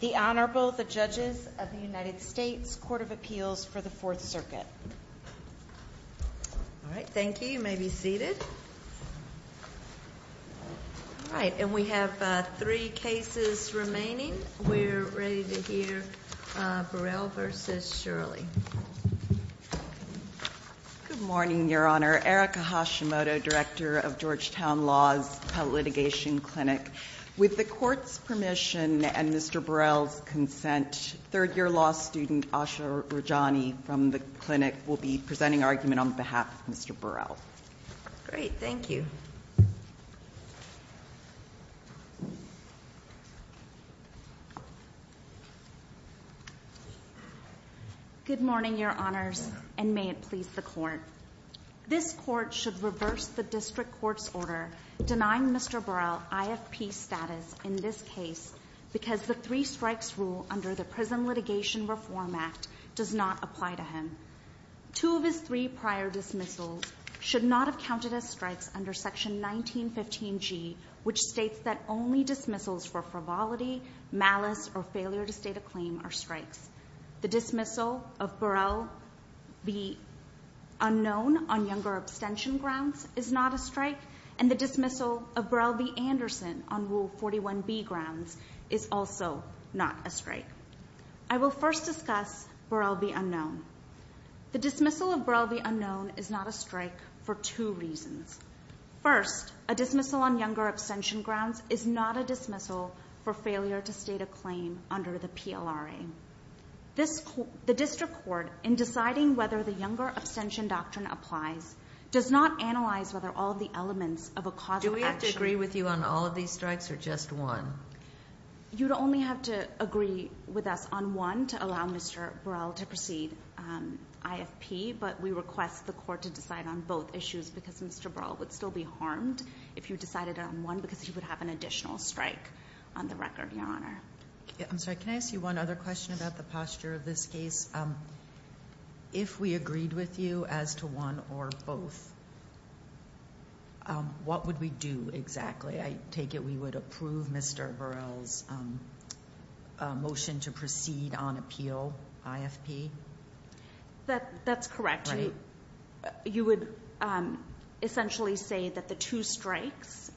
Good morning, Your Honor. Erica Hashimoto, Director of Georgetown Law's Pet Litigation Clinic. With the Court's permission and Mr. Burrell's consent, third-year law student Asha Rajani from the clinic will be presenting argument on behalf of Mr. Burrell. Great, thank you. Good morning, Your Honors, and may it please the Court. This Court should reverse the District Court's order denying Mr. Burrell IFP status in this case because the three strikes rule under the Prison Litigation Reform Act does not apply to him. Two of his three prior dismissals should not have counted as strikes under Section 1915G, which states that only dismissals for frivolity, malice, or failure to state a claim are strikes. The dismissal of Burrell v. Unknown on younger abstention grounds is not a strike and the dismissal of Burrell v. Anderson on Rule 41B grounds is also not a strike. I will first discuss Burrell v. Unknown. The dismissal of Burrell v. Unknown is not a strike for two reasons. First, a dismissal on younger abstention grounds is not a dismissal for failure to state a claim under the PLRA. The District Court, in deciding whether the younger abstention doctrine applies, does not analyze whether all of the elements of a causal action— Do we have to agree with you on all of these strikes or just one? You'd only have to agree with us on one to allow Mr. Burrell to proceed IFP, but we request the Court to decide on both issues because Mr. Burrell would still be harmed if you decided on one because he would have an additional strike on the record, Your Honor. I'm sorry, can I ask you one other question about the posture of this case? If we agreed with you as to one or both, what would we do exactly? I take it we would approve Mr. Burrell's motion to proceed on appeal, IFP? That's correct. You would essentially say that the two strikes,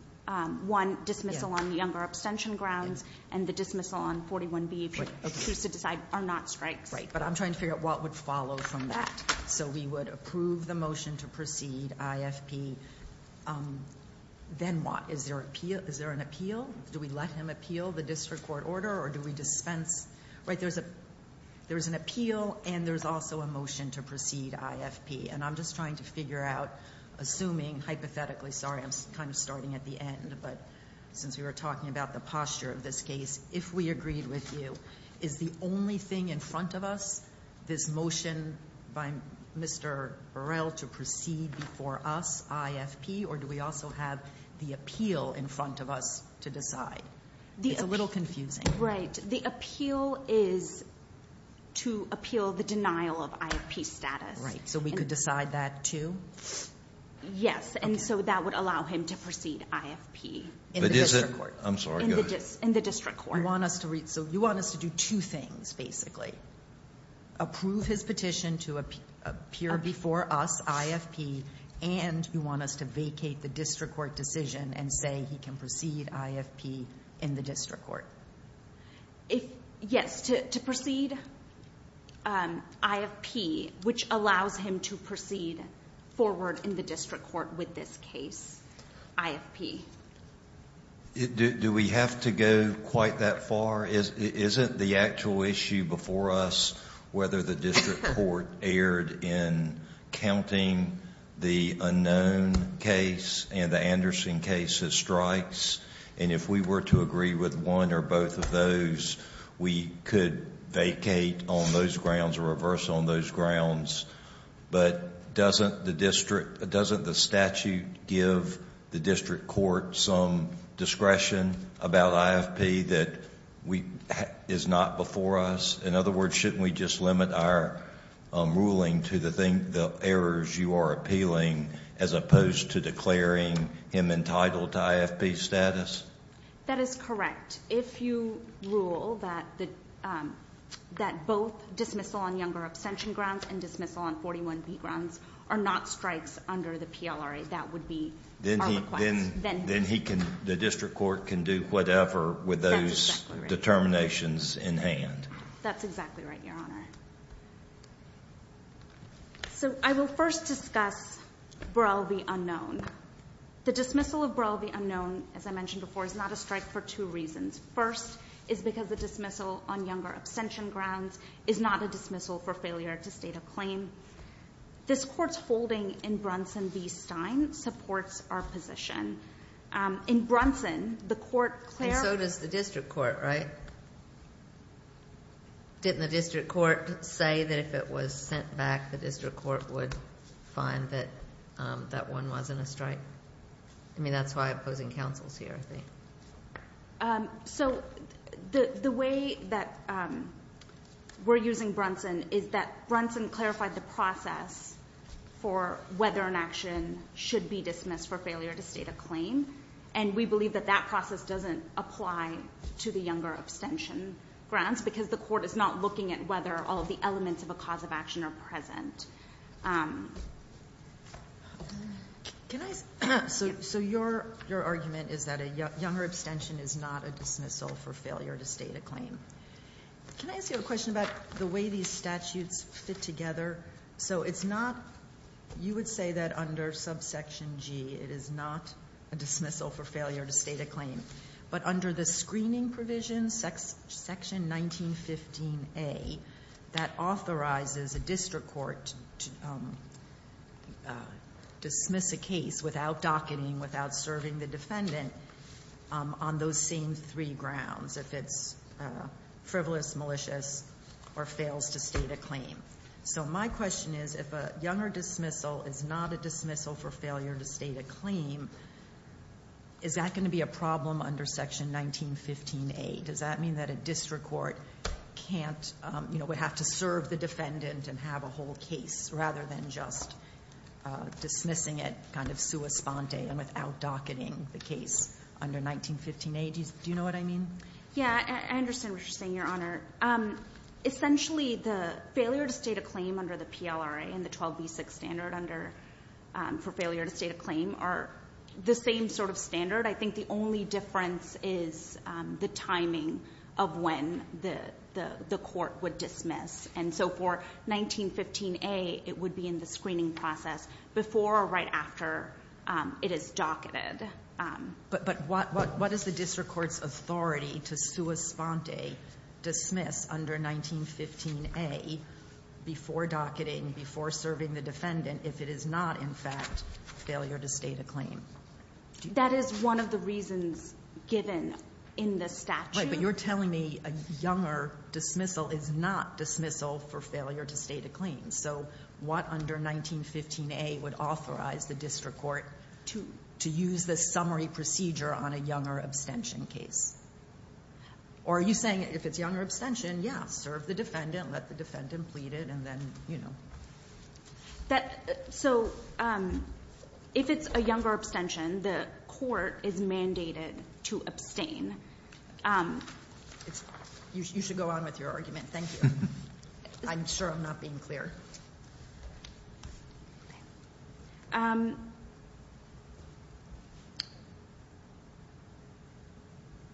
one dismissal on the younger abstention grounds and the dismissal on 41B, if you choose to decide, are not strikes. Right, but I'm trying to figure out what would follow from that. So we would approve the motion to proceed IFP, then what? Is there an appeal? Do we let him appeal the District Court order or do we dispense? There's an appeal and there's also a motion to proceed IFP, and I'm just trying to figure out, assuming, hypothetically—sorry, I'm kind of starting at the end, but since we were talking about the posture of this case—if we agreed with you, is the only thing in front of us this motion by Mr. Burrell to proceed before us, IFP, or do we also have the appeal in front of us to decide? It's a little confusing. Right, the appeal is to appeal the denial of IFP status. Right, so we could decide that too? Yes, and so that would allow him to proceed IFP in the District Court. But is it—I'm sorry, go ahead. In the District Court. You want us to do two things, basically. Approve his petition to appear before us, IFP, and you want us to vacate the District Court decision and say he can proceed IFP in the District Court. Yes, to proceed IFP, which allows him to proceed forward in the District Court with this case, IFP. Do we have to go quite that far? Isn't the actual issue before us whether the District Court erred in counting the unknown case and the Anderson case as strikes? And if we were to agree with one or both of those, we could vacate on those grounds or reverse on those grounds. But doesn't the statute give the District Court some discretion about IFP that is not before us? In other words, shouldn't we just limit our ruling to the errors you are appealing as opposed to declaring him entitled to IFP status? That is correct. If you rule that both dismissal on younger abstention grounds and dismissal on 41b grounds are not strikes under the PLRA, that would be our request. Then the District Court can do whatever with those determinations in hand. That's exactly right, Your Honor. So I will first discuss Burrell v. Unknown. The dismissal of Burrell v. Unknown, as I mentioned before, is not a strike for two reasons. First is because the dismissal on younger abstention grounds is not a dismissal for failure to state a claim. This Court's holding in Brunson v. Stein supports our position. In Brunson, the Court clarified… And so does the District Court, right? Didn't the District Court say that if it was sent back, the District Court would find that that one wasn't a strike? I mean, that's why opposing counsel is here, I think. So the way that we're using Brunson is that Brunson clarified the process for whether an action should be dismissed for failure to state a claim, and we believe that that process doesn't apply to the younger abstention grounds because the Court is not looking at whether all of the elements of a cause of action are present. So your argument is that a younger abstention is not a dismissal for failure to state a claim. Can I ask you a question about the way these statutes fit together? So it's not… You would say that under subsection G, it is not a dismissal for failure to state a claim. But under the screening provision, section 1915A, that authorizes a District Court to dismiss a case without docketing, without serving the defendant on those same three grounds, if it's frivolous, malicious, or fails to state a claim. So my question is, if a younger dismissal is not a dismissal for failure to state a claim, is that going to be a problem under section 1915A? Does that mean that a District Court would have to serve the defendant and have a whole case rather than just dismissing it kind of sua sponte and without docketing the case under 1915A? Do you know what I mean? Yeah, I understand what you're saying, Your Honor. Essentially, the failure to state a claim under the PLRA and the 12b6 standard for failure to state a claim are the same sort of standard. I think the only difference is the timing of when the court would dismiss. And so for 1915A, it would be in the screening process before or right after it is docketed. But what is the District Court's authority to sua sponte dismiss under 1915A before docketing, before serving the defendant, if it is not, in fact, failure to state a claim? That is one of the reasons given in the statute. Right, but you're telling me a younger dismissal is not dismissal for failure to state a claim. So what under 1915A would authorize the District Court to use the summary procedure on a younger abstention case? Or are you saying if it's younger abstention, yeah, serve the defendant, let the defendant plead it, and then, you know. So if it's a younger abstention, the court is mandated to abstain. You should go on with your argument. Thank you. I'm sure I'm not being clear.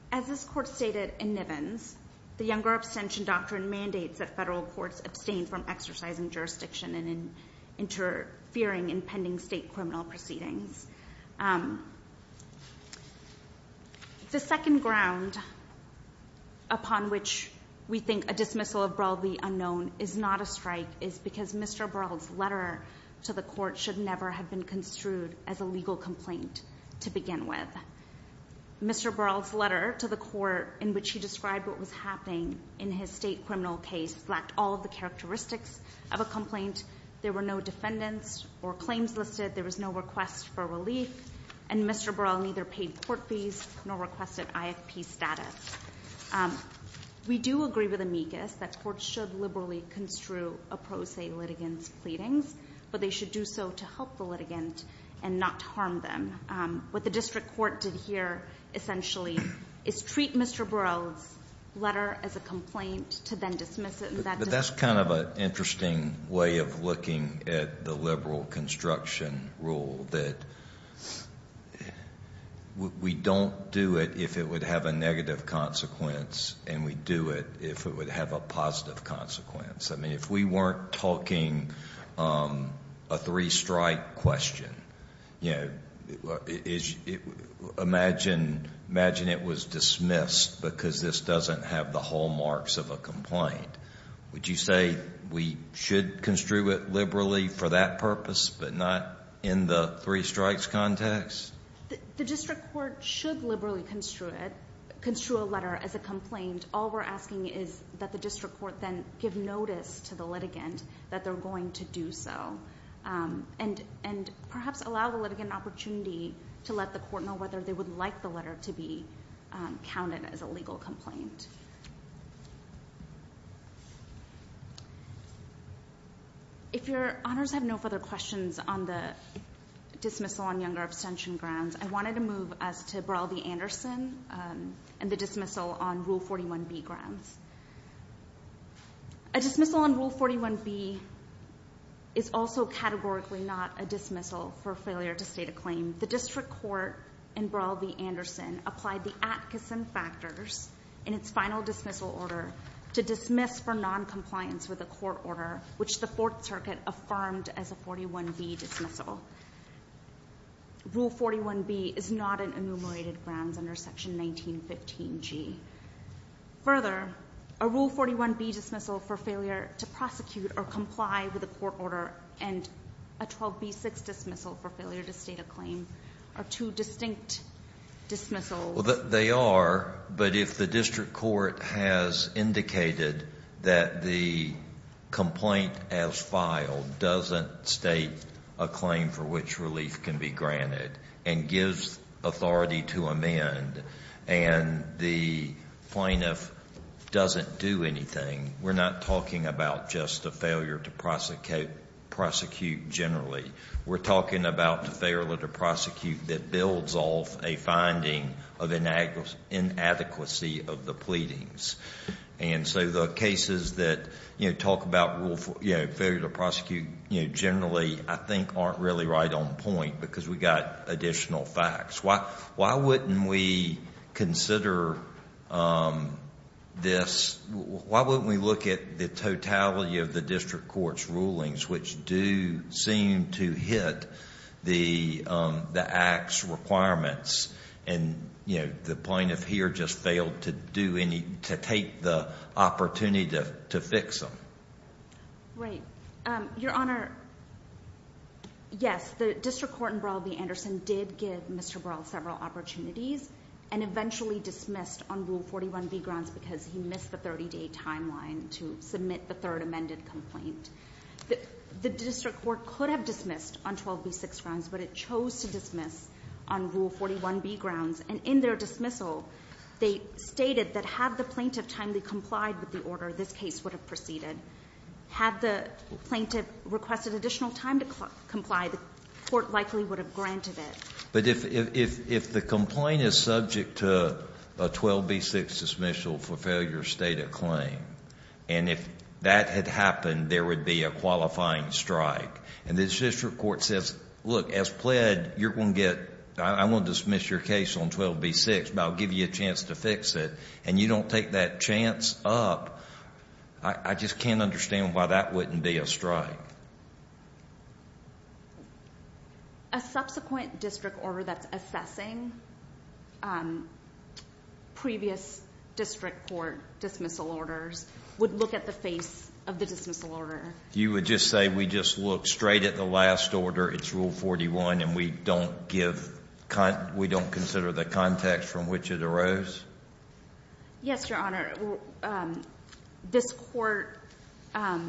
As this court stated in Nivens, the younger abstention doctrine mandates that federal courts abstain from exercising jurisdiction and interfering in pending state criminal proceedings. The second ground upon which we think a dismissal of Burrell v. Unknown is not a strike is because Mr. Burrell's letter to the court should never have been construed as a legal complaint to begin with. Mr. Burrell's letter to the court in which he described what was happening in his state criminal case lacked all of the characteristics of a complaint. There were no defendants or claims listed. There was no request for relief. And Mr. Burrell neither paid court fees nor requested IFP status. We do agree with amicus that courts should liberally construe a pro se litigant's pleadings, but they should do so to help the litigant and not to harm them. What the District Court did here, essentially, is treat Mr. Burrell's letter as a complaint to then dismiss it. But that's kind of an interesting way of looking at the liberal construction rule, that we don't do it if it would have a negative consequence and we do it if it would have a positive consequence. I mean, if we weren't talking a three-strike question, imagine it was dismissed because this doesn't have the hallmarks of a complaint. Would you say we should construe it liberally for that purpose but not in the three-strikes context? The District Court should liberally construe a letter as a complaint. All we're asking is that the District Court then give notice to the litigant that they're going to do so. And perhaps allow the litigant an opportunity to let the court know whether they would like the letter to be counted as a legal complaint. If your honors have no further questions on the dismissal on younger abstention grounds, I wanted to move us to Burrell v. Anderson and the dismissal on Rule 41B grounds. A dismissal on Rule 41B is also categorically not a dismissal for failure to state a claim. The District Court in Burrell v. Anderson applied the Atkinson factors in its final dismissal order to dismiss for noncompliance with a court order, which the Fourth Circuit affirmed as a 41B dismissal. Rule 41B is not an enumerated grounds under Section 1915G. Further, a Rule 41B dismissal for failure to prosecute or comply with a court order and a 12B6 dismissal for failure to state a claim are two distinct dismissals. They are, but if the District Court has indicated that the complaint as filed doesn't state a claim for which relief can be granted and gives authority to amend and the plaintiff doesn't do anything, we're not talking about just the failure to prosecute generally. We're talking about the failure to prosecute that builds off a finding of inadequacy of the pleadings. And so the cases that talk about failure to prosecute generally I think aren't really right on point because we've got additional facts. Why wouldn't we consider this? Why wouldn't we look at the totality of the District Court's rulings, which do seem to hit the Act's requirements and the plaintiff here just failed to take the opportunity to fix them? Right. Your Honor, yes, the District Court in Burrell v. Anderson did give Mr. Burrell several opportunities and eventually dismissed on Rule 41B grounds because he missed the 30-day timeline to submit the third amended complaint. The District Court could have dismissed on 12B6 grounds, but it chose to dismiss on Rule 41B grounds. And in their dismissal, they stated that had the plaintiff timely complied with the order, this case would have proceeded. Had the plaintiff requested additional time to comply, the court likely would have granted it. But if the complaint is subject to a 12B6 dismissal for failure to state a claim, and if that had happened, there would be a qualifying strike, and the District Court says, look, as pled, I won't dismiss your case on 12B6, but I'll give you a chance to fix it, and you don't take that chance up, I just can't understand why that wouldn't be a strike. A subsequent district order that's assessing previous District Court dismissal orders would look at the face of the dismissal order. You would just say we just look straight at the last order, it's Rule 41, and we don't give con – we don't consider the context from which it arose? Yes, Your Honor. This Court has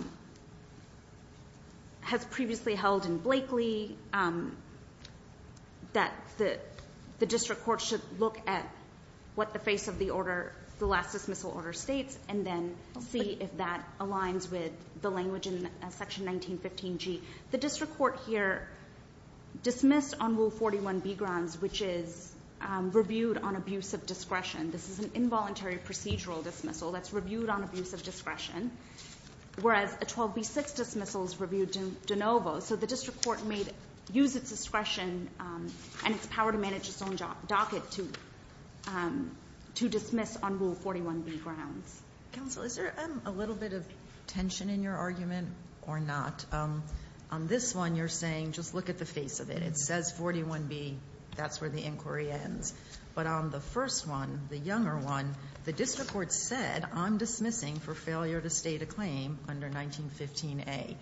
previously held in Blakely that the District Court should look at what the face of the order, the last dismissal order states, and then see if that aligns with the language in Section 1915g. The District Court here dismissed on Rule 41b grounds, which is reviewed on abuse of discretion. This is an involuntary procedural dismissal that's reviewed on abuse of discretion, whereas a 12B6 dismissal is reviewed de novo. So the District Court may use its discretion and its power to manage its own docket to dismiss on Rule 41b grounds. Counsel, is there a little bit of tension in your argument or not? On this one, you're saying just look at the face of it. It says 41b, that's where the inquiry ends. But on the first one, the younger one, the District Court said I'm dismissing for failure to state a claim under 1915a,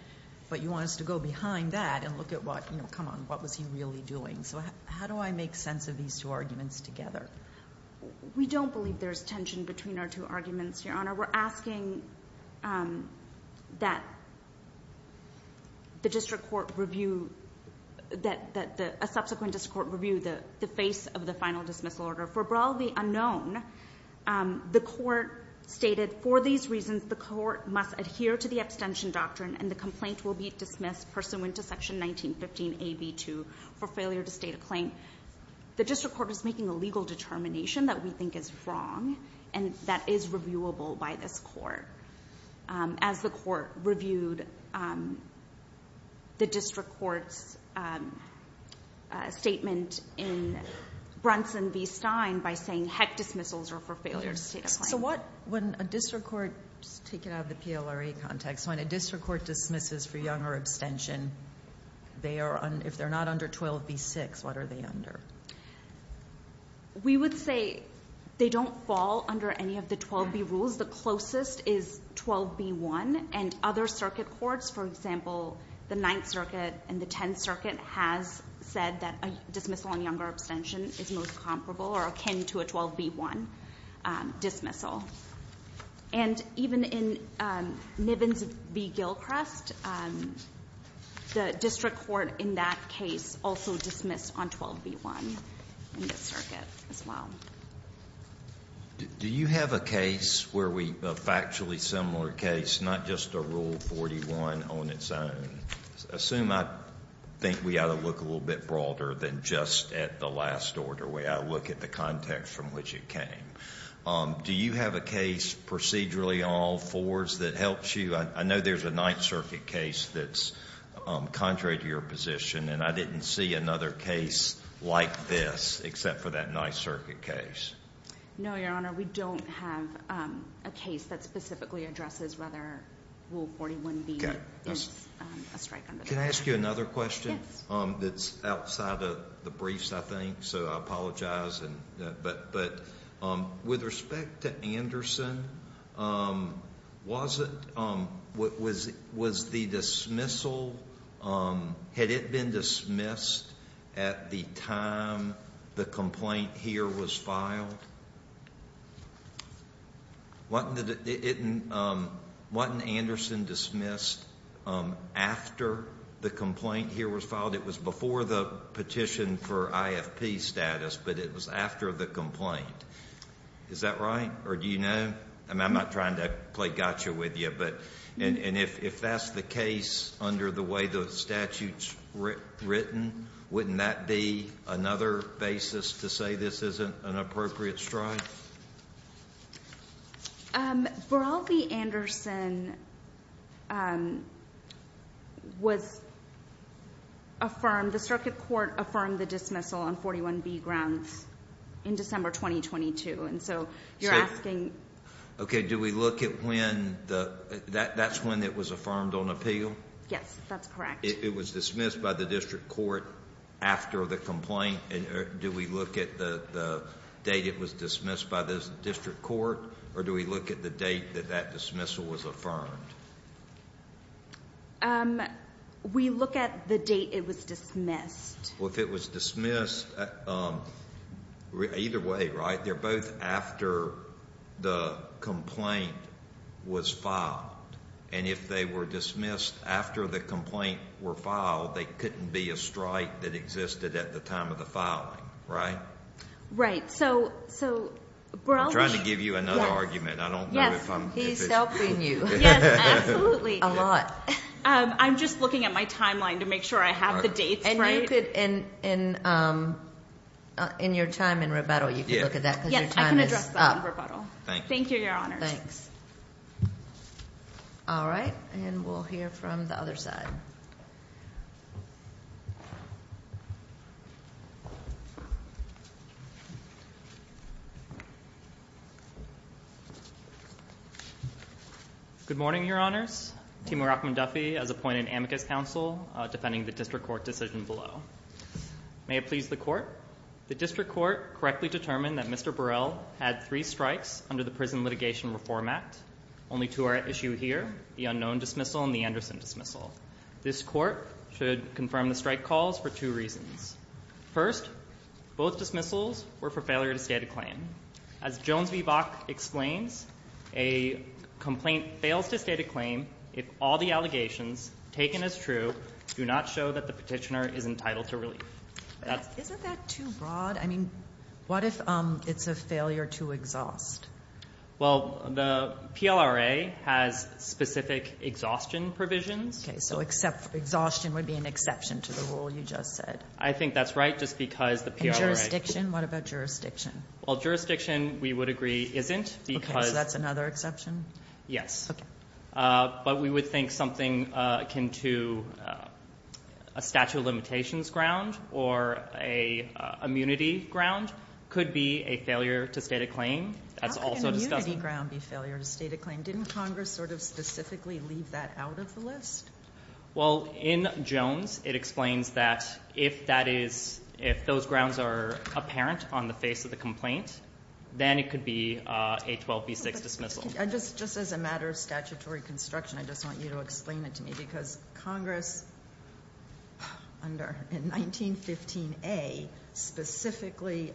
but you want us to go behind that and look at what, you know, come on, what was he really doing? So how do I make sense of these two arguments together? We don't believe there's tension between our two arguments, Your Honor. We're asking that the District Court review, that a subsequent District Court review the face of the final dismissal order. For broadly unknown, the court stated for these reasons, the court must adhere to the abstention doctrine and the complaint will be dismissed pursuant to Section 1915a.b.2 for failure to state a claim. The District Court is making a legal determination that we think is wrong and that is reviewable by this court. As the court reviewed the District Court's statement in Brunson v. Stein by saying, heck, dismissals are for failure to state a claim. So what, when a District Court, just take it out of the PLRA context, when a District Court dismisses for younger abstention, if they're not under 12b.6, what are they under? We would say they don't fall under any of the 12b rules. The closest is 12b.1 and other circuit courts, for example, the Ninth Circuit and the Tenth Circuit has said that a dismissal on younger abstention is most comparable or akin to a 12b.1 dismissal. And even in Nivens v. Gilchrest, the District Court in that case also dismissed on 12b.1 in this circuit as well. Do you have a case where we, a factually similar case, not just a Rule 41 on its own? Assume I think we ought to look a little bit broader than just at the last order where I look at the context from which it came. Do you have a case procedurally in all fours that helps you? I know there's a Ninth Circuit case that's contrary to your position, and I didn't see another case like this except for that Ninth Circuit case. No, Your Honor, we don't have a case that specifically addresses whether Rule 41b is a strike under that. Can I ask you another question? Yes. It's outside of the briefs, I think, so I apologize. But with respect to Anderson, was the dismissal, had it been dismissed at the time the complaint here was filed? Wasn't Anderson dismissed after the complaint here was filed? It was before the petition for IFP status, but it was after the complaint. Is that right? Or do you know? I'm not trying to play gotcha with you. And if that's the case under the way the statute's written, wouldn't that be another basis to say this isn't an appropriate strike? Burrell v. Anderson was affirmed. The Circuit Court affirmed the dismissal on 41b grounds in December 2022, and so you're asking. Okay. Do we look at when that's when it was affirmed on appeal? Yes, that's correct. It was dismissed by the district court after the complaint. Do we look at the date it was dismissed by the district court, or do we look at the date that that dismissal was affirmed? We look at the date it was dismissed. Well, if it was dismissed either way, right, they're both after the complaint was filed. And if they were dismissed after the complaint were filed, they couldn't be a strike that existed at the time of the filing, right? Right. So Burrell v. I'm trying to give you another argument. I don't know if I'm. He's helping you. Yes, absolutely. A lot. I'm just looking at my timeline to make sure I have the dates right. And you could, in your time in rebuttal, you could look at that because your time is up. Yes, I can address that in rebuttal. Thank you. Thank you, Your Honors. Thanks. All right, and we'll hear from the other side. Good morning, Your Honors. Timur Rahman Duffy has appointed amicus counsel defending the district court decision below. May it please the court. The district court correctly determined that Mr. Burrell had three strikes under the Prison Litigation Reform Act. Only two are at issue here, the unknown dismissal and the Anderson dismissal. This court should confirm the strike calls for two reasons. First, both dismissals were for failure to state a claim. As Jones v. Bach explains, a complaint fails to state a claim if all the allegations taken as true do not show that the petitioner is entitled to relief. Isn't that too broad? I mean, what if it's a failure to exhaust? Well, the PLRA has specific exhaustion provisions. Okay, so exhaustion would be an exception to the rule you just said. I think that's right just because the PLRA. Well, jurisdiction we would agree isn't because that's another exception. Yes. But we would think something akin to a statute of limitations ground or a immunity ground could be a failure to state a claim. That's also a ground failure to state a claim. Didn't Congress sort of specifically leave that out of the list? Well, in Jones, it explains that if that is, if those grounds are apparent on the face of the complaint, then it could be a 12B6 dismissal. Just as a matter of statutory construction, I just want you to explain it to me because Congress, in 1915A, specifically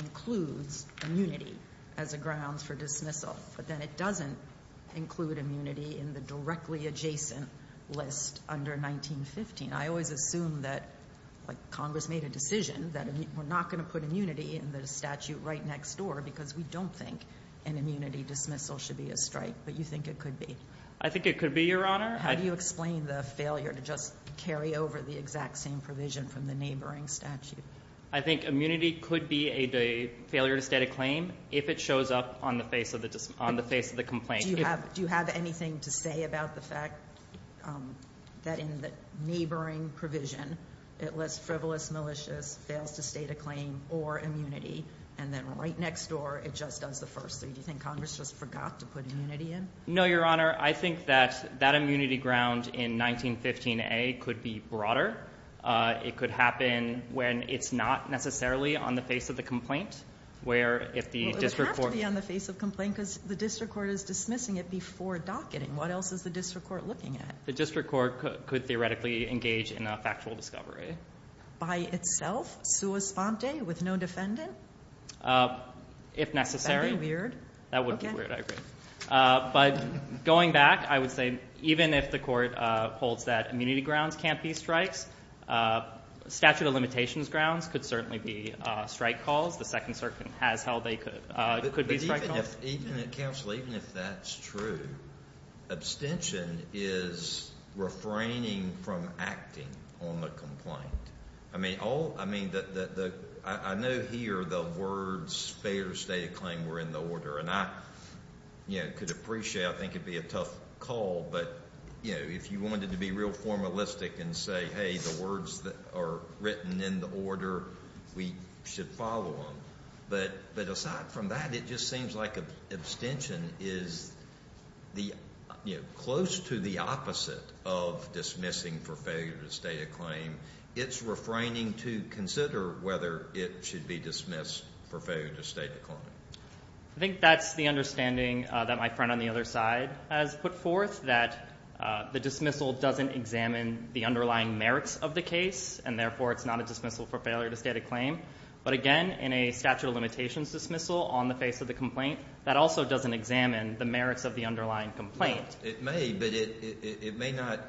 includes immunity as a grounds for dismissal. But then it doesn't include immunity in the directly adjacent list under 1915. I always assume that Congress made a decision that we're not going to put immunity in the statute right next door because we don't think an immunity dismissal should be a strike. But you think it could be? I think it could be, Your Honor. How do you explain the failure to just carry over the exact same provision from the neighboring statute? I think immunity could be a failure to state a claim if it shows up on the face of the complaint. Do you have anything to say about the fact that in the neighboring provision, it lists frivolous, malicious, fails to state a claim, or immunity, and then right next door, it just does the first three? Do you think Congress just forgot to put immunity in? No, Your Honor. I think that that immunity ground in 1915A could be broader. It could happen when it's not necessarily on the face of the complaint. Well, it would have to be on the face of complaint because the district court is dismissing it before docketing. What else is the district court looking at? The district court could theoretically engage in a factual discovery. By itself, sua sponte, with no defendant? If necessary. Isn't that weird? That would be weird, I agree. But going back, I would say even if the court holds that immunity grounds can't be strikes, statute of limitations grounds could certainly be strike calls. The Second Circuit has held they could be strike calls. Even if that's true, abstention is refraining from acting on the complaint. I know here the words failure to state a claim were in the order, and I could appreciate, I think it would be a tough call, but if you wanted to be real formalistic and say, hey, the words are written in the order, we should follow them. But aside from that, it just seems like abstention is close to the opposite of dismissing for failure to state a claim. It's refraining to consider whether it should be dismissed for failure to state a claim. I think that's the understanding that my friend on the other side has put forth, that the dismissal doesn't examine the underlying merits of the case, and therefore it's not a dismissal for failure to state a claim. But again, in a statute of limitations dismissal on the face of the complaint, that also doesn't examine the merits of the underlying complaint. It may, but it may not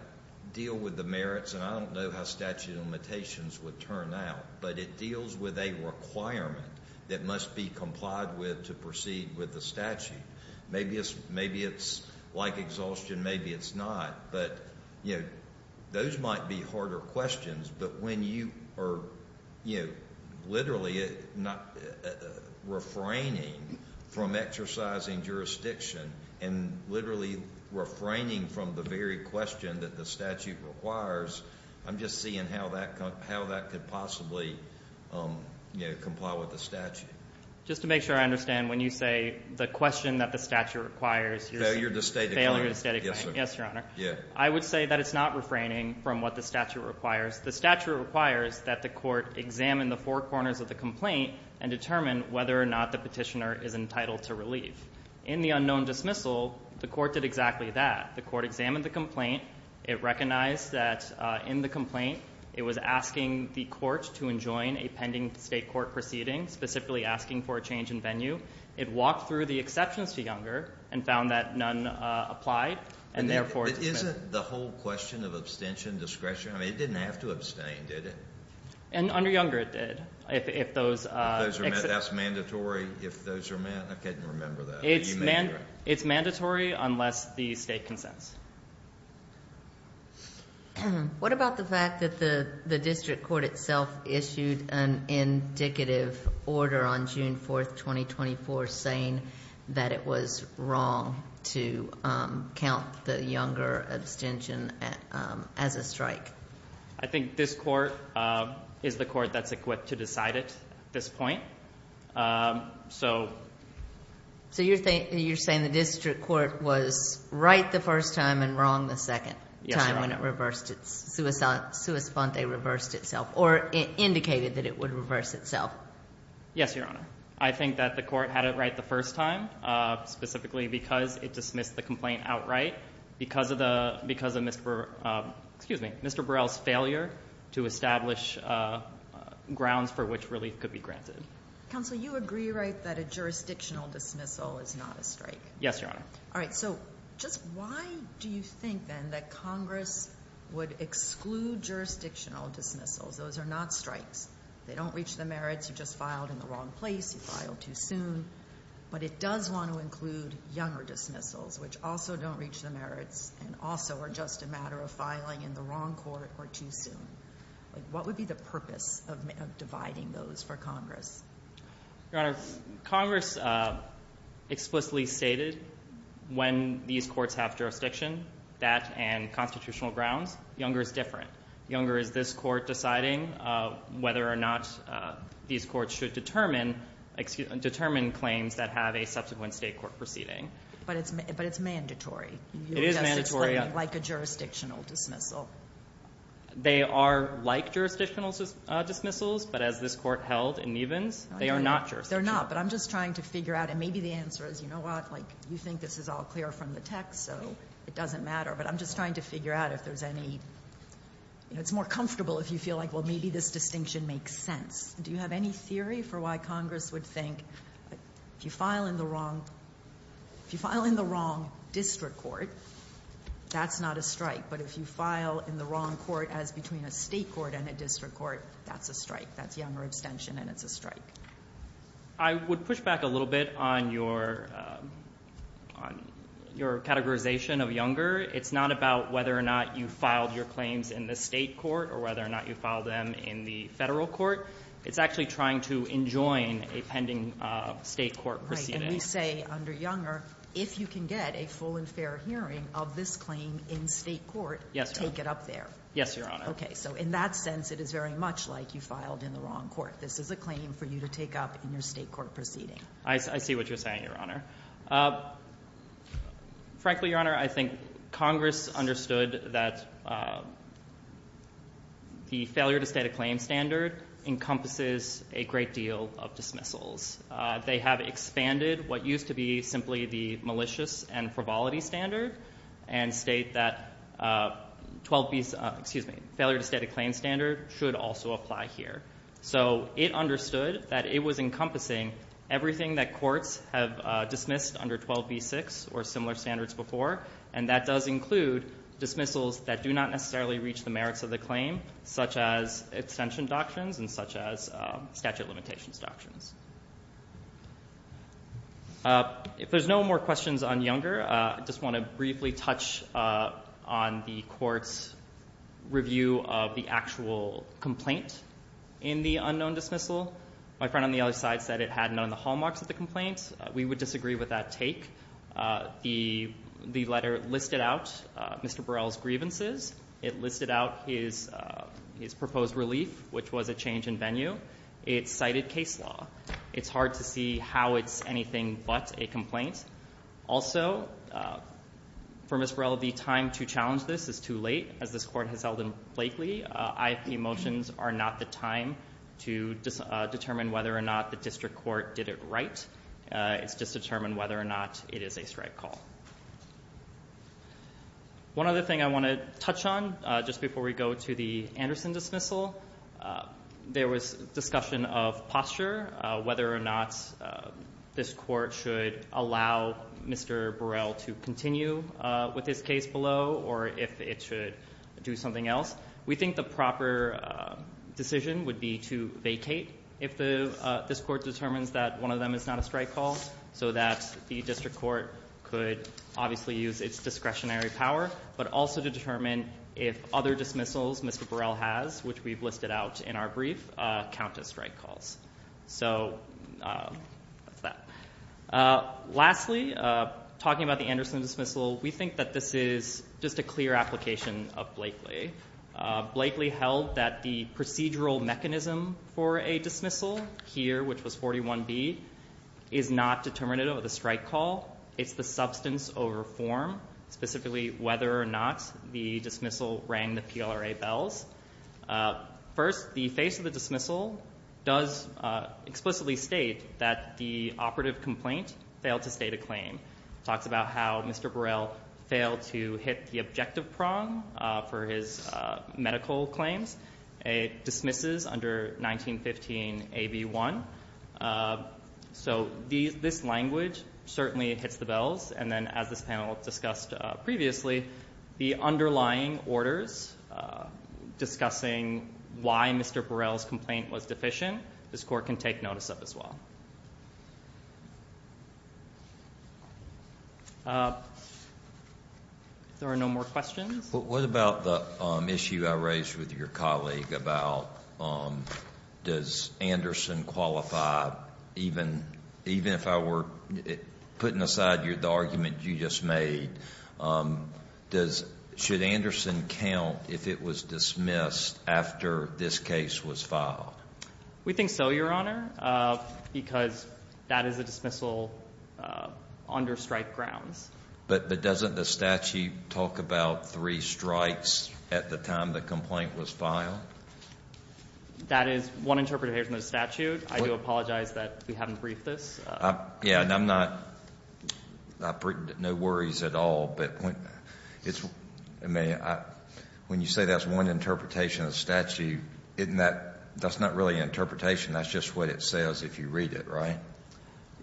deal with the merits, and I don't know how statute of limitations would turn out. But it deals with a requirement that must be complied with to proceed with the statute. Maybe it's like exhaustion, maybe it's not. Those might be harder questions, but when you are literally not refraining from exercising jurisdiction and literally refraining from the very question that the statute requires, I'm just seeing how that could possibly comply with the statute. Just to make sure I understand, when you say the question that the statute requires, you're saying failure to state a claim. Yes, Your Honor. I would say that it's not refraining from what the statute requires. The statute requires that the court examine the four corners of the complaint and determine whether or not the petitioner is entitled to relief. In the unknown dismissal, the court did exactly that. The court examined the complaint. It recognized that in the complaint it was asking the court to enjoin a pending state court proceeding, specifically asking for a change in venue. It walked through the exceptions to Younger and found that none applied, and therefore it's dismissed. Isn't the whole question of abstention discretion? I mean, it didn't have to abstain, did it? Under Younger, it did. That's mandatory if those are met? I couldn't remember that. It's mandatory unless the state consents. What about the fact that the district court itself issued an indicative order on June 4, 2024, saying that it was wrong to count the Younger abstention as a strike? I think this court is the court that's equipped to decide it at this point. So you're saying the district court was right the first time and wrong the second time when it reversed itself, or indicated that it would reverse itself? Yes, Your Honor. I think that the court had it right the first time, specifically because it dismissed the complaint outright, because of Mr. Burrell's failure to establish grounds for which relief could be granted. Counsel, you agree, right, that a jurisdictional dismissal is not a strike? Yes, Your Honor. All right, so just why do you think, then, that Congress would exclude jurisdictional dismissals? Those are not strikes. They don't reach the merits. You just filed in the wrong place. You filed too soon. But it does want to include Younger dismissals, which also don't reach the merits and also are just a matter of filing in the wrong court or too soon. What would be the purpose of dividing those for Congress? Your Honor, Congress explicitly stated when these courts have jurisdiction, that and constitutional grounds, Younger is different. Younger is this court deciding whether or not these courts should determine claims that have a subsequent state court proceeding. But it's mandatory. It is mandatory. Like a jurisdictional dismissal. They are like jurisdictional dismissals, but as this court held in Nevins, they are not jurisdictional. They're not, but I'm just trying to figure out. And maybe the answer is, you know what, you think this is all clear from the text, so it doesn't matter. But I'm just trying to figure out if there's any, you know, it's more comfortable if you feel like, well, maybe this distinction makes sense. Do you have any theory for why Congress would think if you file in the wrong district court, that's not a strike. But if you file in the wrong court as between a state court and a district court, that's a strike. That's Younger abstention, and it's a strike. I would push back a little bit on your categorization of Younger. It's not about whether or not you filed your claims in the state court or whether or not you filed them in the federal court. It's actually trying to enjoin a pending state court proceeding. Right, and we say under Younger, if you can get a full and fair hearing of this claim in state court, take it up there. Yes, Your Honor. Okay, so in that sense, it is very much like you filed in the wrong court. This is a claim for you to take up in your state court proceeding. I see what you're saying, Your Honor. Frankly, Your Honor, I think Congress understood that the failure to state a claim standard encompasses a great deal of dismissals. They have expanded what used to be simply the malicious and frivolity standard and state that 12B, excuse me, failure to state a claim standard should also apply here. So it understood that it was encompassing everything that courts have dismissed under 12B-6 or similar standards before, and that does include dismissals that do not necessarily reach the merits of the claim, such as extension doctrines and such as statute of limitations doctrines. If there's no more questions on Younger, I just want to briefly touch on the court's review of the actual complaint in the unknown dismissal. My friend on the other side said it had none of the hallmarks of the complaint. We would disagree with that take. The letter listed out Mr. Burrell's grievances. It listed out his proposed relief, which was a change in venue. It cited case law. It's hard to see how it's anything but a complaint. Also, for Mr. Burrell, the time to challenge this is too late, as this court has held him blatantly. IFP motions are not the time to determine whether or not the district court did it right. It's just to determine whether or not it is a strike call. One other thing I want to touch on just before we go to the Anderson dismissal. There was discussion of posture, whether or not this court should allow Mr. Burrell to continue with his case below or if it should do something else. We think the proper decision would be to vacate if this court determines that one of them is not a strike call, so that the district court could obviously use its discretionary power, but also to determine if other dismissals Mr. Burrell has, which we've listed out in our brief, count as strike calls. Lastly, talking about the Anderson dismissal, we think that this is just a clear application of Blakely. Blakely held that the procedural mechanism for a dismissal here, which was 41B, is not determinative of the strike call. It's the substance over form, specifically whether or not the dismissal rang the PLRA bells. First, the face of the dismissal does explicitly state that the operative complaint failed to state a claim. It talks about how Mr. Burrell failed to hit the objective prong for his medical claims. It dismisses under 1915 AB1. So this language certainly hits the bells, and then as this panel discussed previously, the underlying orders discussing why Mr. Burrell's complaint was deficient, this court can take notice of as well. If there are no more questions. Kennedy, but what about the issue I raised with your colleague about does Anderson qualify, even if I were putting aside the argument you just made, does – should Anderson count if it was dismissed after this case was filed? We think so, Your Honor, because that is a dismissal under strike grounds. But doesn't the statute talk about three strikes at the time the complaint was filed? That is one interpretation of the statute. I do apologize that we haven't briefed this. Yes, and I'm not – no worries at all. But when you say that's one interpretation of the statute, isn't that – that's not really an interpretation. That's just what it says if you read it, right?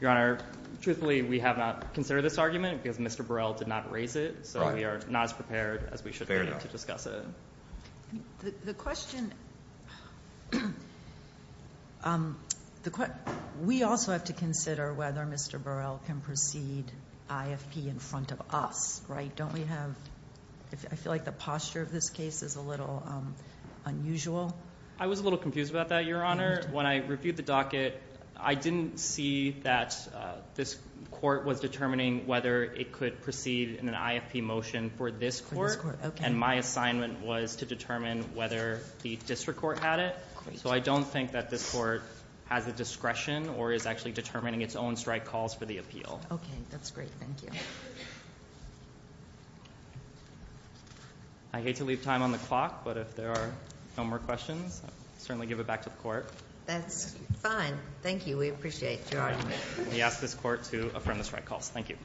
Your Honor, truthfully, we have not considered this argument because Mr. Burrell did not raise it. Right. So we are not as prepared as we should be to discuss it. Fair enough. The question – we also have to consider whether Mr. Burrell can proceed IFP in front of us, right? Don't we have – I feel like the posture of this case is a little unusual. I was a little confused about that, Your Honor. When I reviewed the docket, I didn't see that this court was determining whether it could proceed in an IFP motion for this court. For this court, okay. And my assignment was to determine whether the district court had it. So I don't think that this court has the discretion or is actually determining its own strike calls for the appeal. Okay, that's great. Thank you. I hate to leave time on the clock, but if there are no more questions, I'll certainly give it back to the court. That's fine. Thank you. We appreciate your argument. We ask this court to affirm the strike calls. Thank you.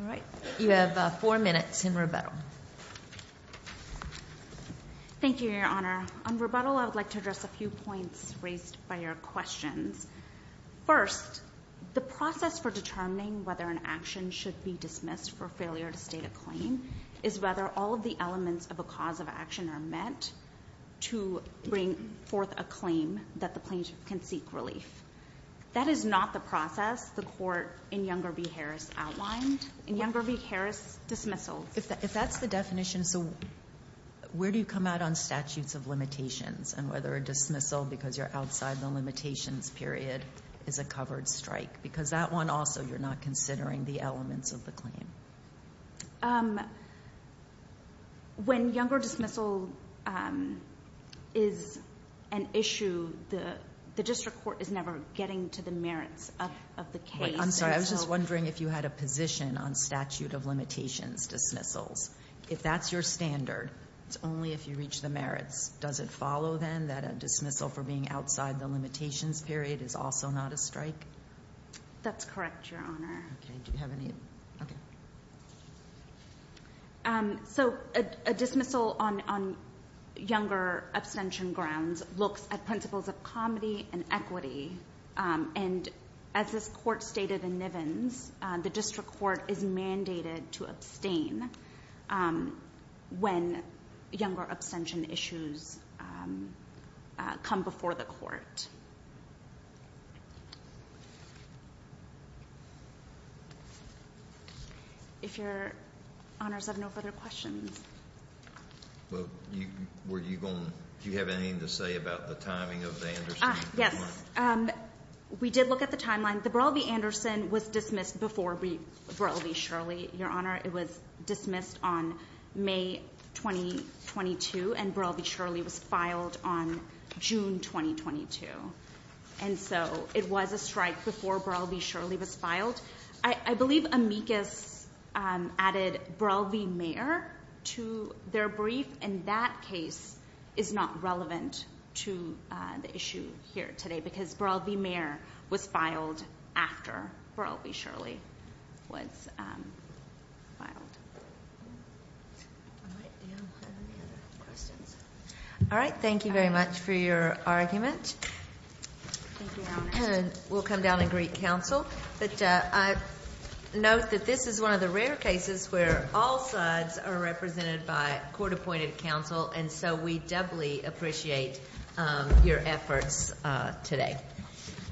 All right. You have four minutes in rebuttal. Thank you, Your Honor. On rebuttal, I would like to address a few points raised by your questions. First, the process for determining whether an action should be dismissed for failure to state a claim is whether all of the elements of a cause of action are met to bring forth a claim that the plaintiff can seek relief. That is not the process the court in Younger v. Harris outlined. In Younger v. Harris, dismissals. If that's the definition, where do you come out on statutes of limitations and whether a dismissal because you're outside the limitations period is a covered strike? Because that one also you're not considering the elements of the claim. When Younger dismissal is an issue, the district court is never getting to the merits of the case. I'm sorry. I was just wondering if you had a position on statute of limitations dismissals. If that's your standard, it's only if you reach the merits. Does it follow then that a dismissal for being outside the limitations period is also not a strike? That's correct, Your Honor. Okay. Do you have any? Okay. So a dismissal on Younger abstention grounds looks at principles of comedy and equity. And as this court stated in Nivens, the district court is mandated to abstain when Younger abstention issues come before the court. If Your Honors have no further questions. Well, were you going to, do you have anything to say about the timing of the end or something like that? Yes. We did look at the timeline. The Burrell v. Anderson was dismissed before Burrell v. Shirley. Your Honor, it was dismissed on May 2022 and Burrell v. Shirley was filed on June 2022. And so it was a strike before Burrell v. Shirley was filed. I believe Amicus added Burrell v. Mayer to their brief and that case is not relevant to the issue here today because Burrell v. Mayer was filed after Burrell v. Shirley was filed. All right. Thank you very much for your argument. Thank you, Your Honor. We'll come down and greet counsel. But note that this is one of the rare cases where all sides are represented by court-appointed counsel. And so we doubly appreciate your efforts today.